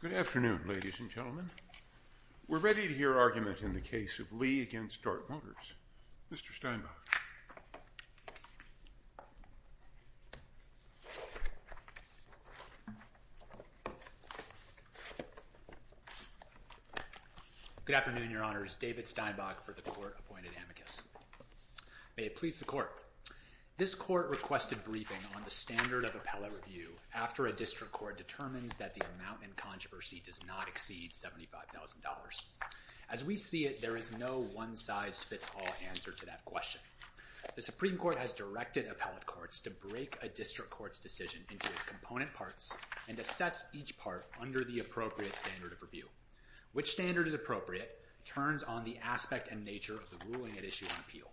Good afternoon, ladies and gentlemen. We're ready to hear argument in the case of Lee v. Dart Motors. Mr. Steinbach. Good afternoon, Your Honors. David Steinbach for the Court Appointed Amicus. May it please the Court. This Court requested briefing on the standard of appellate review after a district court determines that the amount in controversy does not exceed $75,000. As we see it, there is no one-size-fits-all answer to that question. The Supreme Court has directed appellate courts to break a district court's decision into its component parts and assess each part under the appropriate standard of review. Which standard is appropriate turns on the aspect and nature of the ruling at issue on appeal.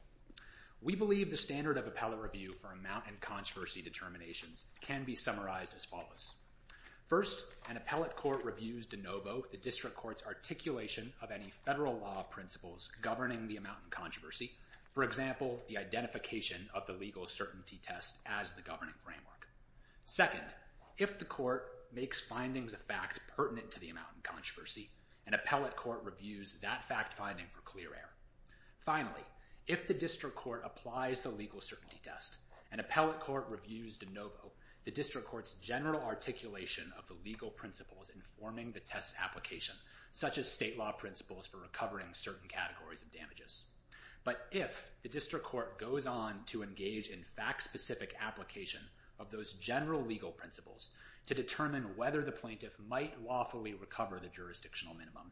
We believe the standard of appellate review for amount in controversy determinations can be summarized as follows. First, an appellate court reviews de novo the district court's articulation of any federal law principles governing the amount in controversy. For example, the identification of the legal certainty test as the governing framework. Second, if the court makes findings of fact pertinent to the amount in controversy, an appellate court reviews that fact finding for clear air. Finally, if the district court applies the legal certainty test, an appellate court reviews de novo the district court's general articulation of the legal principles informing the test application, such as state law principles for recovering certain categories of damages. But if the district court goes on to engage in fact-specific application of those general legal principles to determine whether the plaintiff might lawfully recover the jurisdictional minimum,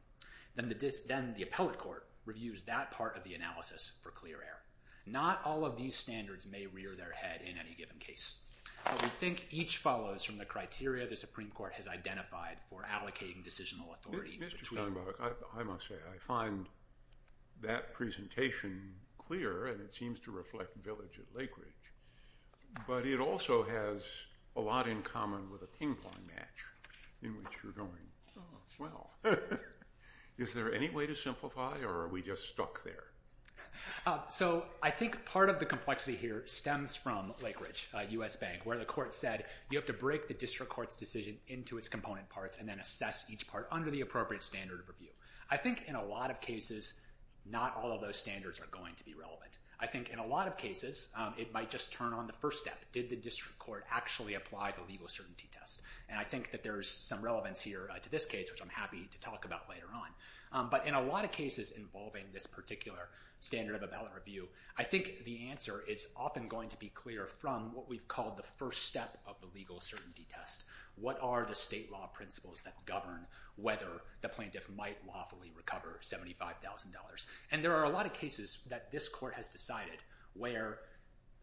then the appellate court reviews that part of the analysis for clear air. Not all of these standards may rear their head in any given case. But we think each follows from the criteria the Supreme Court has identified for allocating decisional authority. Mr. Steinbach, I must say, I find that presentation clear and it seems to reflect village at Lake Ridge. But it also has a lot in common with a ping-pong match in which you're going. Well, is there any way to simplify or are we just stuck there? So I think part of the complexity here stems from Lake Ridge, U.S. Bank, where the court said you have to break the district court's decision into its component parts and then assess each part under the appropriate standard of review. I think in a lot of cases, not all of those standards are going to be relevant. I think in a lot of cases, it might just turn on the first step. Did the district court actually apply the legal certainty test? And I think that there's some relevance here to this case, which I'm happy to talk about later on. But in a lot of cases involving this particular standard of appellate review, I think the answer is often going to be clear from what we've called the first step of the legal certainty test. What are the state law principles that govern whether the plaintiff might lawfully recover $75,000? And there are a lot of cases that this court has decided where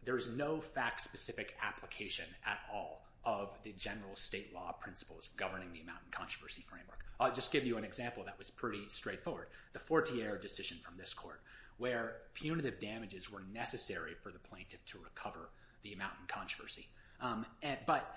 there's no fact-specific application at all of the general state law principles governing the amount in controversy framework. I'll just give you an example that was pretty straightforward. The Fortier decision from this court where punitive damages were necessary for the plaintiff to recover the amount in controversy. But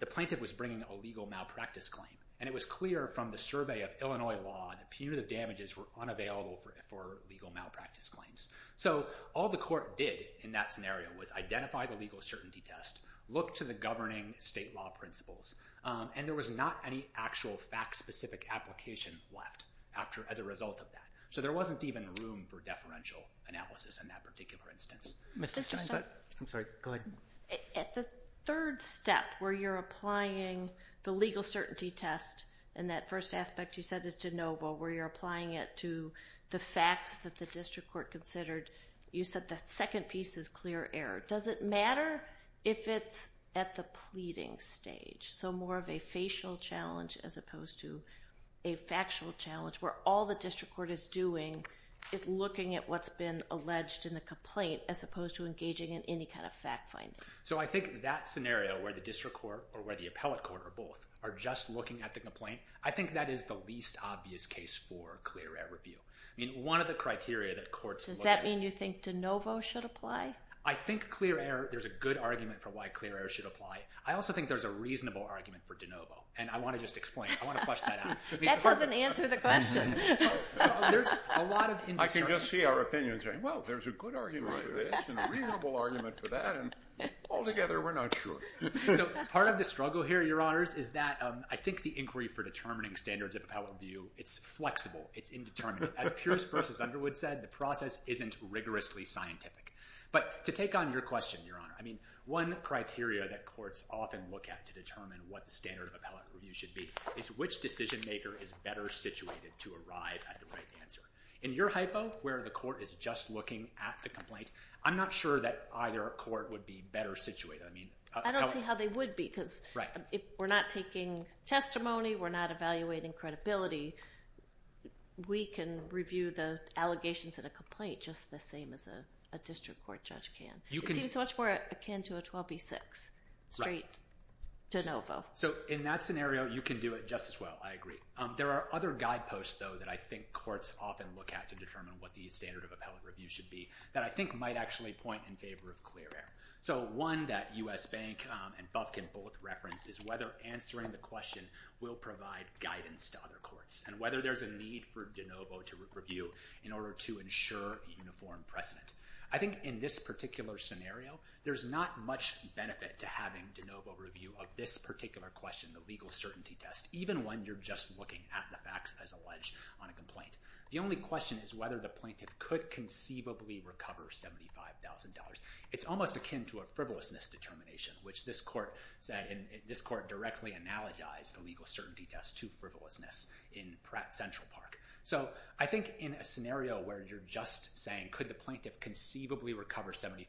the plaintiff was bringing a legal malpractice claim. And it was clear from the survey of Illinois law that punitive damages were unavailable for legal malpractice claims. So all the court did in that scenario was identify the legal certainty test, look to the governing state law principles, and there was not any actual fact-specific application left as a result of that. So there wasn't even room for deferential analysis in that particular instance. Mr. Steinbeck? I'm sorry. Go ahead. At the third step where you're applying the legal certainty test in that first aspect you said is de novo, where you're applying it to the facts that the district court considered, you said the second piece is clear error. Does it matter if it's at the pleading stage? So more of a facial challenge as opposed to a factual challenge where all the district court is doing is looking at what's been alleged in the complaint as opposed to engaging in any kind of fact-finding. So I think that scenario where the district court or where the appellate court or both are just looking at the complaint, I think that is the least obvious case for clear error review. I mean, one of the criteria that courts look at— Does that mean you think de novo should apply? I think clear error—there's a good argument for why clear error should apply. I also think there's a reasonable argument for de novo. And I want to just explain. I want to flush that out. That doesn't answer the question. There's a lot of— I can just see our opinions saying, well, there's a good argument for this and a reasonable argument for that. And altogether, we're not sure. So part of the struggle here, Your Honors, is that I think the inquiry for determining standards of appellate review, it's flexible. It's indeterminate. As Pierce v. Underwood said, the process isn't rigorously scientific. But to take on your question, Your Honor, I mean, one criteria that courts often look at to determine what the standard of appellate review should be is which decision-maker is better situated to arrive at the right answer. In your hypo, where the court is just looking at the complaint, I'm not sure that either court would be better situated. I mean— I don't see how they would be. Right. Because if we're not taking testimony, we're not evaluating credibility, we can review the allegations in a complaint just the same as a district court judge can. You can— It seems so much more akin to a 12b-6, straight de novo. So in that scenario, you can do it just as well. I agree. There are other guideposts, though, that I think courts often look at to determine what the standard of appellate review should be that I think might actually point in favor of clear air. So one that U.S. Bank and Bufkin both referenced is whether answering the question will provide guidance to other courts and whether there's a need for de novo to review in order to ensure uniform precedent. I think in this particular scenario, there's not much benefit to having de novo review of this particular question, the legal certainty test, even when you're just looking at the facts as alleged on a complaint. The only question is whether the plaintiff could conceivably recover $75,000. It's almost akin to a frivolousness determination, which this court said—this court directly analogized the legal certainty test to frivolousness in Pratt Central Park. So I think in a scenario where you're just saying, could the plaintiff conceivably recover $75,000,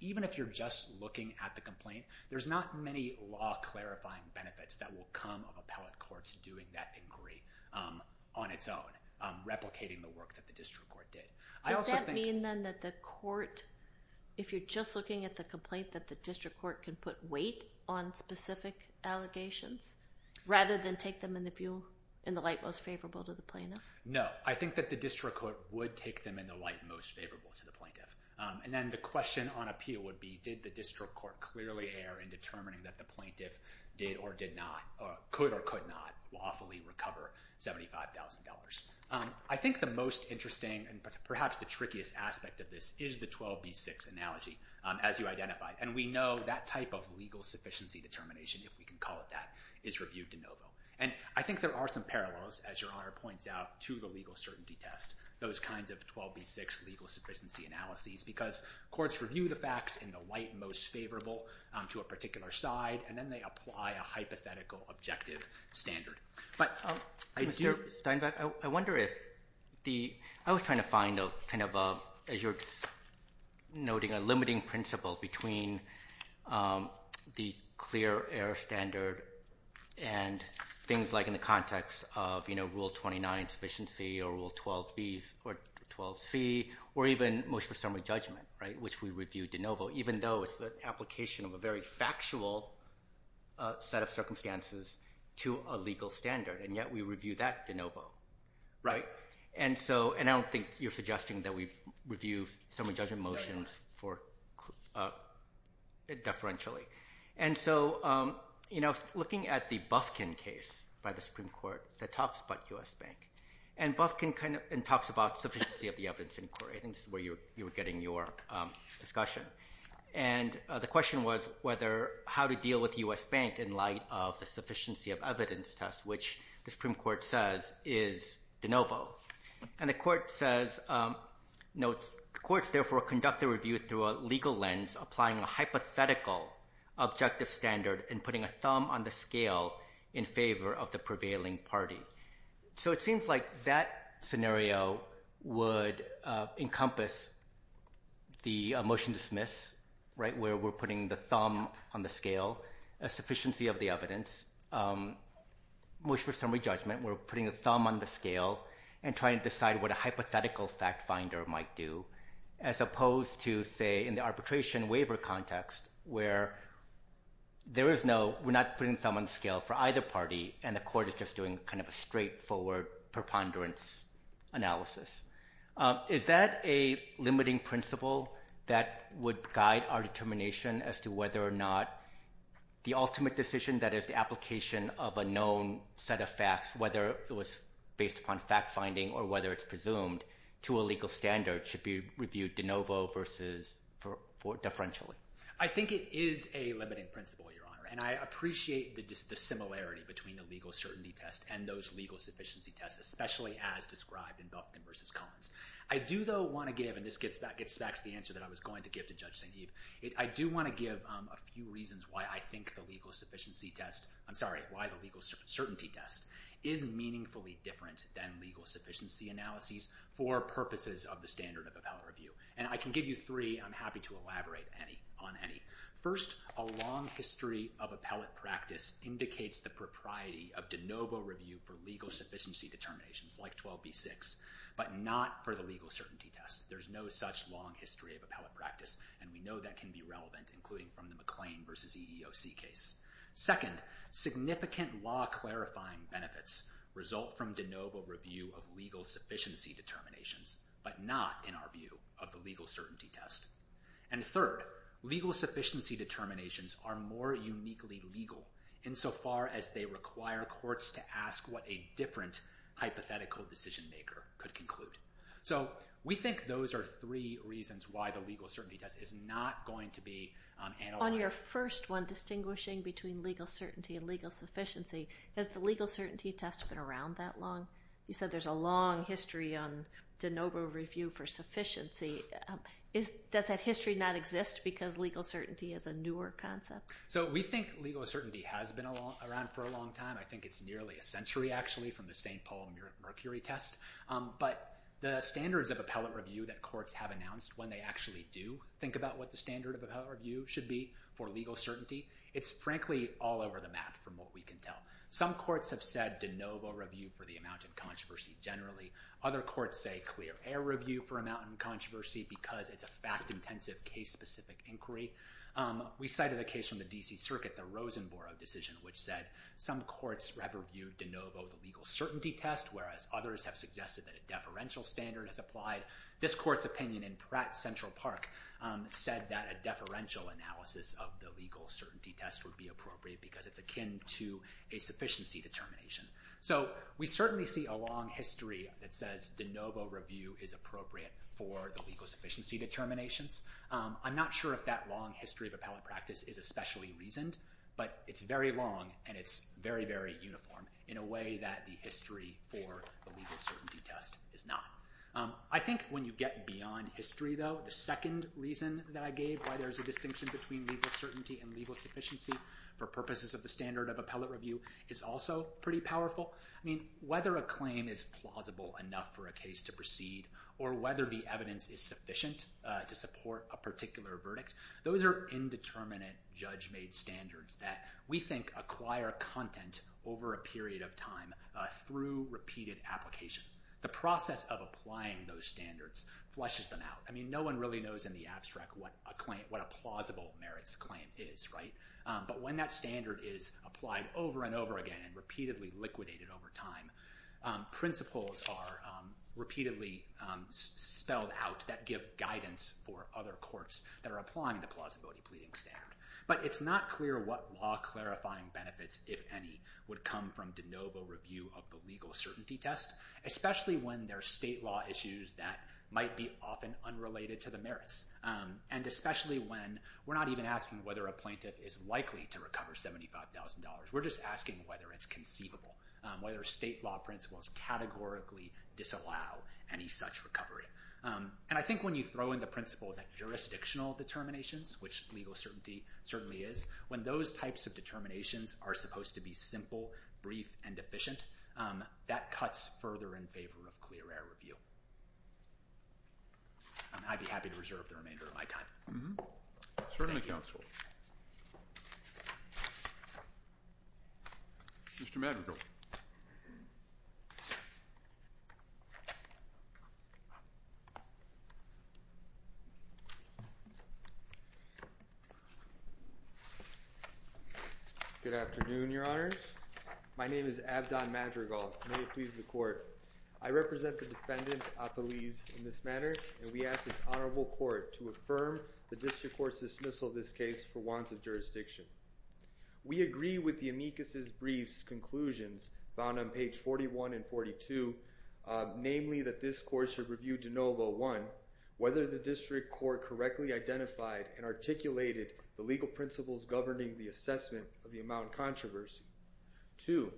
even if you're just looking at the complaint, there's not many law-clarifying benefits that will come of appellate courts doing that inquiry on its own, replicating the work that the district court did. I also think— Does that mean then that the court, if you're just looking at the complaint, that the district court can put weight on specific allegations rather than take them in the light most favorable to the plaintiff? No. I think that the district court would take them in the light most favorable to the plaintiff. And then the question on appeal would be, did the district court clearly err in determining that the plaintiff did or did not—could or could not lawfully recover $75,000? I think the most interesting and perhaps the trickiest aspect of this is the 12b-6 analogy, as you identified. And we know that type of legal sufficiency determination, if we can call it that, is reviewed de novo. And I think there are some parallels, as Your Honor points out, to the legal certainty test, those kinds of 12b-6 legal sufficiency analyses, because courts review the facts in the light most favorable to a particular side, and then they apply a hypothetical objective standard. But— Mr. Steinbeck, I wonder if the—I was trying to find a kind of, as you're noting, a limiting principle between the clear error standard and things like in the context of, you know, Rule 29 sufficiency or Rule 12b or 12c, or even motion for summary judgment, right, which we review de novo, even though it's the application of a very factual set of circumstances to a legal standard. And yet we review that de novo, right? And so—and I don't think you're suggesting that we review summary judgment motions for—deferentially. And so, you know, looking at the Bufkin case by the Supreme Court that talks about U.S. Bank, and Bufkin kind of—and talks about sufficiency of the evidence inquiry, I think is where you were getting your discussion. And the question was whether—how to deal with U.S. Bank in light of the sufficiency of evidence test, which the Supreme Court says is de novo. And the court says—notes, courts therefore conduct the review through a legal lens, applying a hypothetical objective standard and putting a thumb on the scale in favor of the prevailing party. So it seems like that scenario would encompass the motion to dismiss, right, where we're putting the thumb on the scale, a sufficiency of the evidence, which for summary judgment we're putting a thumb on the scale and trying to decide what a hypothetical fact finder might do, as opposed to, say, in the arbitration waiver context, where there is no—we're not putting the thumb on the scale for either party, and the court is just doing kind of a straightforward preponderance analysis. Is that a limiting principle that would guide our determination as to whether or not the ultimate decision, that is, the application of a known set of facts, whether it was based upon fact finding or whether it's presumed, to a legal standard should be reviewed de novo versus deferentially? I think it is a limiting principle, Your Honor, and I appreciate the similarity between the legal certainty test and those legal sufficiency tests, especially as described in Belkin v. I do, though, want to give—and this gets back to the answer that I was going to give to Judge St. Hebe—I do want to give a few reasons why I think the legal sufficiency test—I'm sorry, why the legal certainty test is meaningfully different than legal sufficiency analyses for purposes of the standard of appellate review. And I can give you three, and I'm happy to elaborate on any. First, a long history of appellate practice indicates the propriety of de novo review for legal sufficiency determinations, like 12b-6, but not for the legal certainty test. There's no such long history of appellate practice, and we know that can be relevant, including from the McLean v. EEOC case. Second, significant law clarifying benefits result from de novo review of legal sufficiency determinations, but not, in our view, of the legal certainty test. And third, legal sufficiency determinations are more uniquely legal, insofar as they require courts to ask what a different hypothetical decision-maker could conclude. So we think those are three reasons why the legal certainty test is not going to be analyzed. On your first one, distinguishing between legal certainty and legal sufficiency, has the legal certainty test been around that long? You said there's a long history on de novo review for sufficiency. Does that history not exist because legal certainty is a newer concept? So we think legal certainty has been around for a long time. I think it's nearly a century, actually, from the St. Paul mercury test. But the standards of appellate review that courts have announced when they actually do think about what the standard of appellate review should be for legal certainty, it's frankly all over the map from what we can tell. Some courts have said de novo review for the amount in controversy generally. Other courts say clear air review for amount in controversy because it's a fact-intensive, case-specific inquiry. We cited a case from the D.C. Circuit, the Rosenborough decision, which said some courts reviewed de novo the legal certainty test, whereas others have suggested that a deferential standard is applied. This court's opinion in Central Park said that a deferential analysis of the legal certainty test would be appropriate because it's akin to a sufficiency determination. So we certainly see a long history that says de novo review is appropriate for the legal sufficiency determinations. I'm not sure if that long history of appellate practice is especially reasoned, but it's very long and it's very, very uniform in a way that the history for the legal certainty test is not. I think when you get beyond history, though, the second reason that I gave why there's a distinction between legal certainty and legal sufficiency for purposes of the standard of appellate review is also pretty powerful. Whether a claim is plausible enough for a case to proceed or whether the evidence is sufficient to support a particular verdict, those are indeterminate, judge-made standards that we think acquire content over a period of time through repeated application. The process of applying those standards flushes them out. No one really knows in the abstract what a plausible merits claim is, right? But when that standard is applied over and over again and repeatedly liquidated over time, principles are repeatedly spelled out that give guidance for other courts that are applying the plausibility pleading standard. But it's not clear what law clarifying benefits, if any, would come from de novo review of the legal certainty test, especially when there are state law issues that might be often unrelated to the merits, and especially when we're not even asking whether a plaintiff is likely to recover $75,000. We're just asking whether it's conceivable, whether state law principles categorically disallow any such recovery. And I think when you throw in the principle that jurisdictional determinations, which legal certainty certainly is, when those types of determinations are supposed to be simple, brief, and efficient, that cuts further in favor of clear error review. I'd be happy to reserve the remainder of my time. Certainly, counsel. Mr. Madrigal. Good afternoon, your honors. My name is Abdon Madrigal. May it please the court. I represent the defendant, Apolise, in this matter, and we ask this honorable court to affirm the district court's dismissal of this case for wants of jurisdiction. We agree with the amicus' brief's conclusions, found on page 41 and 42, namely that this court should review de novo, one, whether the district court correctly identified and articulated the legal principles governing the assessment of the amount controversy. Two,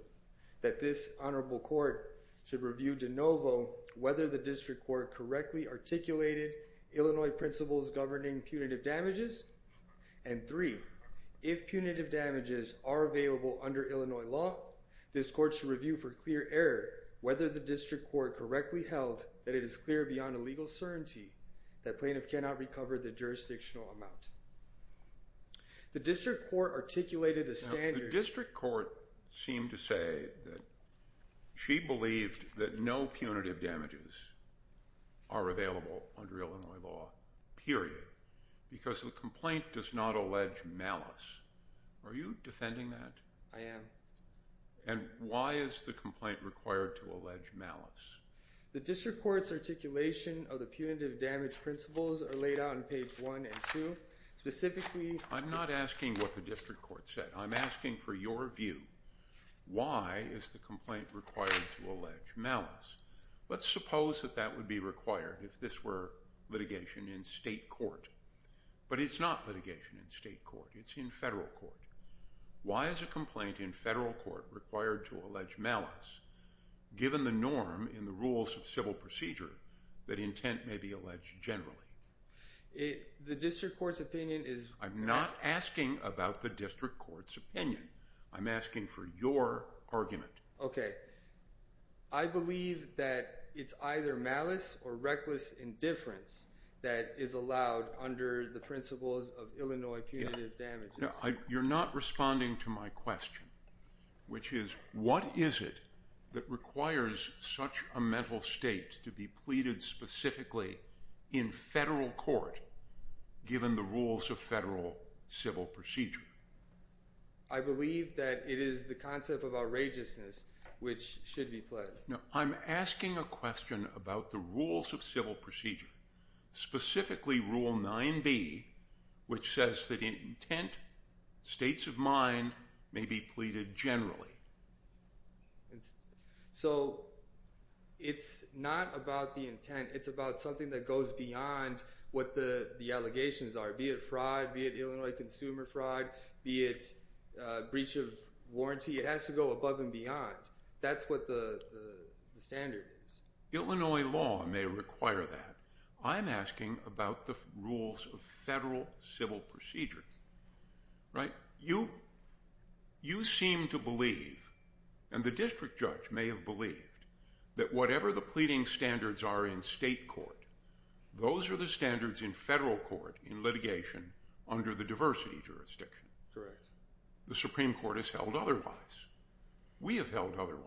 that this honorable court should review de novo whether the district court correctly articulated Illinois principles governing punitive damages. And three, if punitive damages are available under Illinois law, this court should review for clear error whether the district court correctly held that it is clear beyond legal certainty that plaintiff cannot recover the jurisdictional amount. The district court articulated the standard. The district court seemed to say that she believed that no punitive damages are available under Illinois law, period, because the complaint does not allege malice. Are you defending that? I am. And why is the complaint required to allege malice? The district court's articulation of the punitive damage principles are laid out on page 1 and 2. Specifically... I'm not asking what the district court said. I'm asking for your view. Why is the complaint required to allege malice? Let's suppose that that would be required if this were litigation in state court. But it's not litigation in state court. It's in federal court. Why is a complaint in federal court required to allege malice, given the norm in the rules of civil procedure that intent may be alleged generally? The district court's opinion is... I'm not asking about the district court's opinion. I'm asking for your argument. Okay. I believe that it's either malice or reckless indifference that is allowed under the principles of Illinois punitive damages. You're not responding to my question, which is, what is it that requires such a mental state to be pleaded specifically in federal court, given the rules of federal civil procedure? I believe that it is the concept of outrageousness, which should be pledged. I'm asking a question about the rules of civil procedure, specifically Rule 9b, which says that intent, states of mind, may be pleaded generally. So, it's not about the intent. It's about something that goes beyond what the allegations are, be it fraud, be it Illinois consumer fraud, be it breach of warranty. It has to go above and beyond. That's what the standard is. Illinois law may require that. I'm asking about the rules of federal civil procedure. Right? You seem to believe, and the district judge may have believed, that whatever the pleading standards are in state court, those are the standards in federal court in litigation under the diversity jurisdiction. The Supreme Court has held otherwise. We have held otherwise.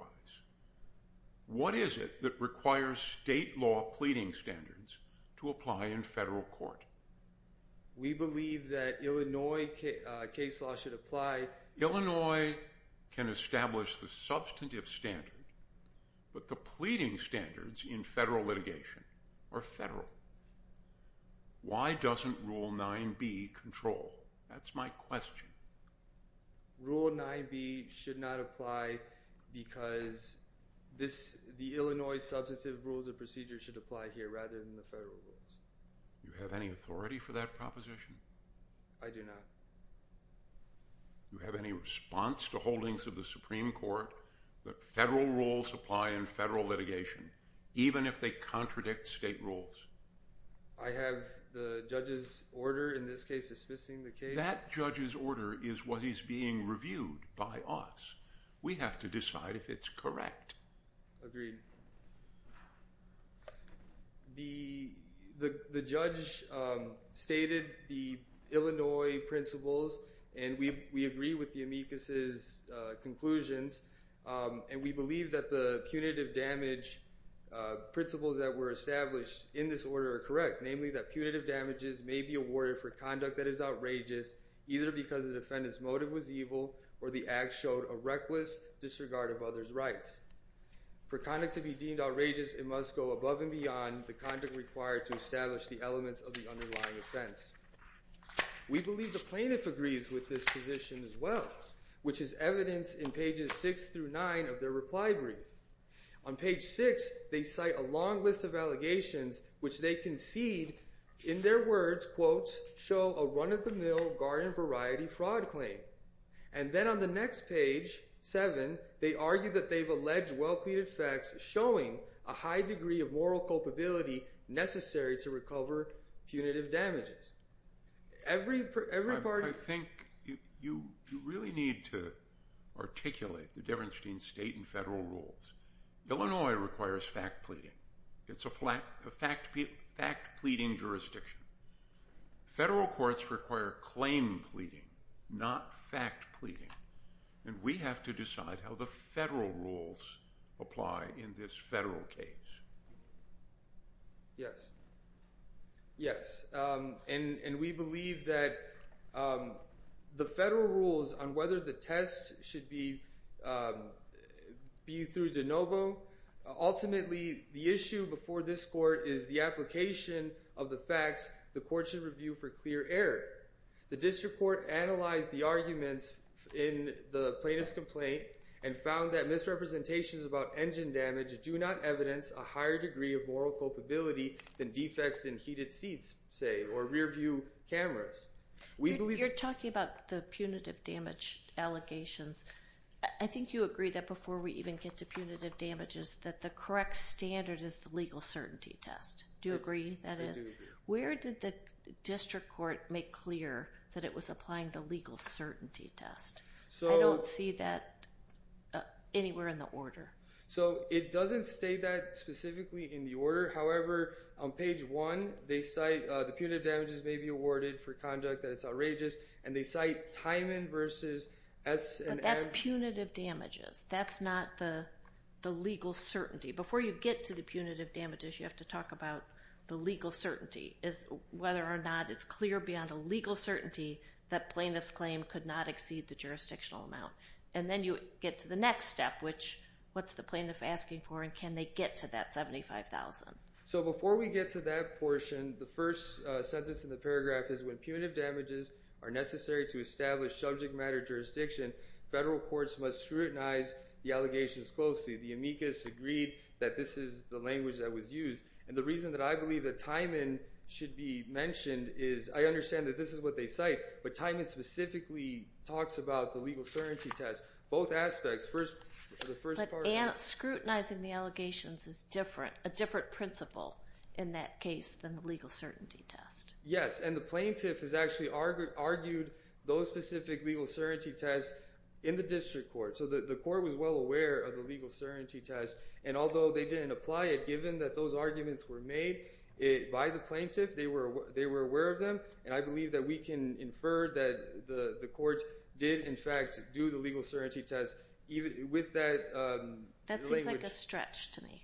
What is it that requires state law pleading standards to apply in federal court? We believe that Illinois case law should apply... Illinois can establish the substantive standard, but the pleading standards in federal litigation are federal. Why doesn't Rule 9b control? That's my question. Rule 9b should not apply because the Illinois substantive rules of procedure should apply here rather than the federal rules. Do you have any authority for that proposition? I do not. Do you have any response to holdings of the Supreme Court that federal rules apply in federal litigation even if they contradict state rules? I have the judge's order in this case dismissing the case. That judge's order is what is being reviewed by us. We have to decide if it's correct. Agreed. The judge stated the Illinois principles, and we agree with the amicus's conclusions, and we believe that the punitive damage principles that were established in this order are correct, namely that punitive damages may be awarded for conduct that is outrageous either because the defendant's motive was evil or the act showed a reckless disregard of others' rights. For conduct to be deemed outrageous, it must go above and beyond the conduct required to establish the elements of the underlying offense. We believe the plaintiff agrees with this position as well, which is evidenced in pages six through nine of their reply brief. On page six, they cite a long list of allegations, which they concede in their words, quote, show a run-of-the-mill garden variety fraud claim. And then on the next page, seven, they argue that they've alleged well-pleaded facts showing a high degree of moral culpability necessary to recover punitive damages. Every part... I think you really need to articulate the Deverenstein state and federal rules. Illinois requires fact pleading. It's a fact pleading jurisdiction. Federal courts require claim pleading, not fact pleading. And we have to decide how the federal rules apply in this federal case. Yes. Yes. And we believe that the federal rules on whether the test should be through de novo. Ultimately, the issue before this court is the application of the facts the court should review for clear error. The district court analyzed the arguments in the plaintiff's complaint and found that misrepresentations about engine damage do not evidence a higher degree of moral culpability than defects in heated seats, say, or rear view cameras. We believe... You're talking about the punitive damage allegations. I think you agree that before we even get to punitive damages, that the correct standard is the legal certainty test. Do you agree that is? I do agree. Where did the district court make clear that it was applying the legal certainty test? I don't see that anywhere in the order. So it doesn't state that specifically in the order. However, on page 1, they cite... The punitive damages may be awarded for conduct that is outrageous, and they cite Tyman versus S&M... But that's punitive damages. That's not the legal certainty. Before you get to the punitive damages, you have to talk about the legal certainty, whether or not it's clear beyond a legal certainty that plaintiff's claim could not exceed the jurisdictional amount. And then you get to the next step, which what's the plaintiff asking for and can they get to that $75,000? So before we get to that portion, the first sentence in the paragraph is, when punitive damages are necessary to establish subject-matter jurisdiction, federal courts must scrutinize the allegations closely. The amicus agreed that this is the language that was used. And the reason that I believe that Tyman should be mentioned is I understand that this is what they cite, but Tyman specifically talks about the legal certainty test. Both aspects. But scrutinizing the allegations is different, a different principle in that case than the legal certainty test. Yes, and the plaintiff has actually argued those specific legal certainty tests in the district court. So the court was well aware of the legal certainty test, and although they didn't apply it, given that those arguments were made by the plaintiff, they were aware of them, and I believe that we can infer that the court did in fact do the legal certainty test with that language. That seems like a stretch to me.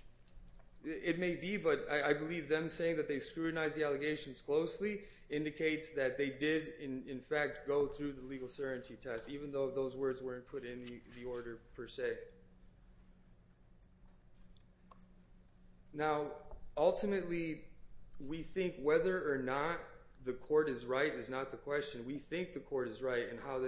It may be, but I believe them saying that they scrutinized the allegations closely indicates that they did in fact go through the legal certainty test, even though those words weren't put in the order per se. Now, ultimately, we think whether or not the court is right is not the question. We think the court is right in how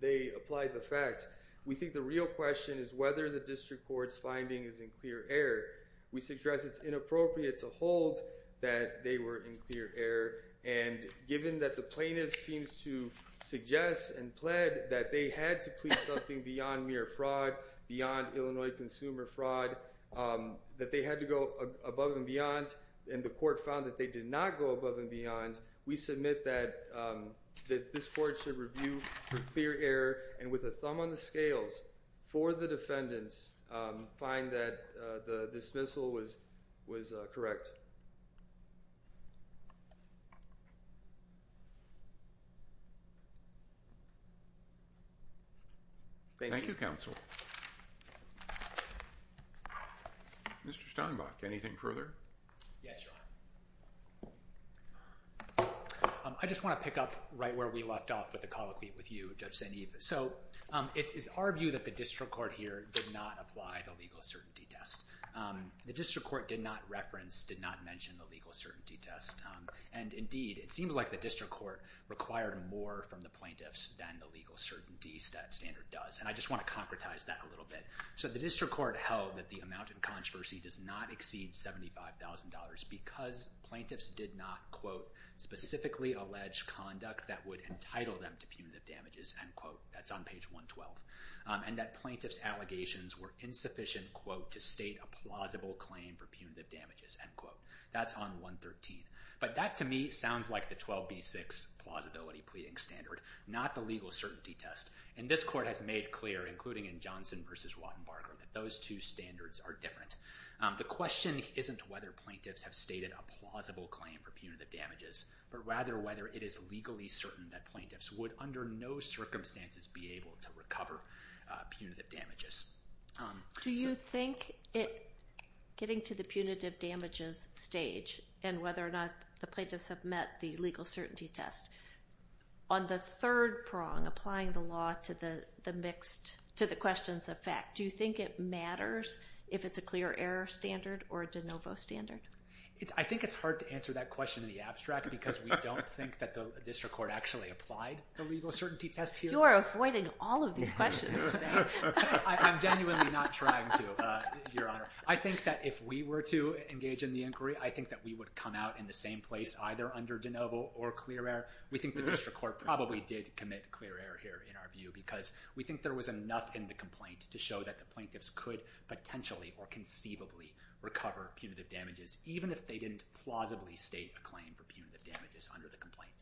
they applied the facts. We think the real question is whether the district court's finding is in clear error. We suggest it's inappropriate to hold that they were in clear error, and given that the plaintiff seems to suggest and plead that they had to plead something beyond mere fraud, beyond Illinois consumer fraud, that they had to go above and beyond, and the court found that they did not go above and beyond, we submit that this court should review for clear error, and with a thumb on the scales for the defendants, find that the dismissal was correct. Thank you, counsel. Mr. Steinbach, anything further? Yes, Your Honor. I just want to pick up right where we left off with the colloquy with you, Judge St. Eve. It is our view that the district court here did not apply the legal certainty test. The district court did not reference, did not mention, the legal certainty test. Indeed, it seems like the district court required more from the plaintiffs than the legal certainty standard does. I just want to concretize that a little bit. The district court held that the amount in controversy does not exceed $75,000 because plaintiffs did not, quote, specifically allege conduct that would entitle them to punitive damages, end quote. That's on page 112. And that plaintiffs' allegations were insufficient, quote, to state a plausible claim for punitive damages, end quote. That's on 113. But that, to me, sounds like the 12B6 plausibility pleading standard, not the legal certainty test. And this court has made clear, including in Johnson versus Rottenbarger, that those two standards are different. The question isn't whether plaintiffs have stated a plausible claim for punitive damages, but rather whether it is legally certain that plaintiffs would, under no circumstances, be able to recover punitive damages. Do you think it, getting to the punitive damages stage, and whether or not the plaintiffs have met the legal certainty test, on the third prong, applying the law to the mixed, to the questions of fact, do you think it matters if it's a clear error standard or a de novo standard? I think it's hard to answer that question in the abstract because we don't think that the district court actually applied the legal certainty test here. You're avoiding all of these questions today. I'm genuinely not trying to, Your Honor. I think that if we were to engage in the inquiry, I think that we would come out in the same place, either under de novo or clear error. We think the district court probably did commit clear error here, in our view, because we think there was enough in the complaint to show that the plaintiffs could potentially or conceivably recover punitive damages, even if they didn't plausibly state a claim for punitive damages under the complaint.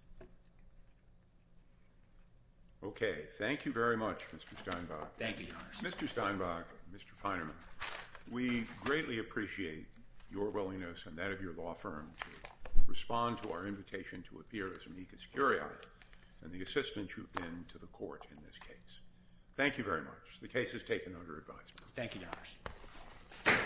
Okay. Thank you very much, Mr. Steinbach. Thank you, Your Honor. Mr. Steinbach, Mr. Feinerman, we greatly appreciate your willingness and that of your law firm to respond to our invitation to appear as an eco-security officer and the assistance you've been to the court in this case. Thank you very much. The case is taken under advisement. Thank you, Your Honor.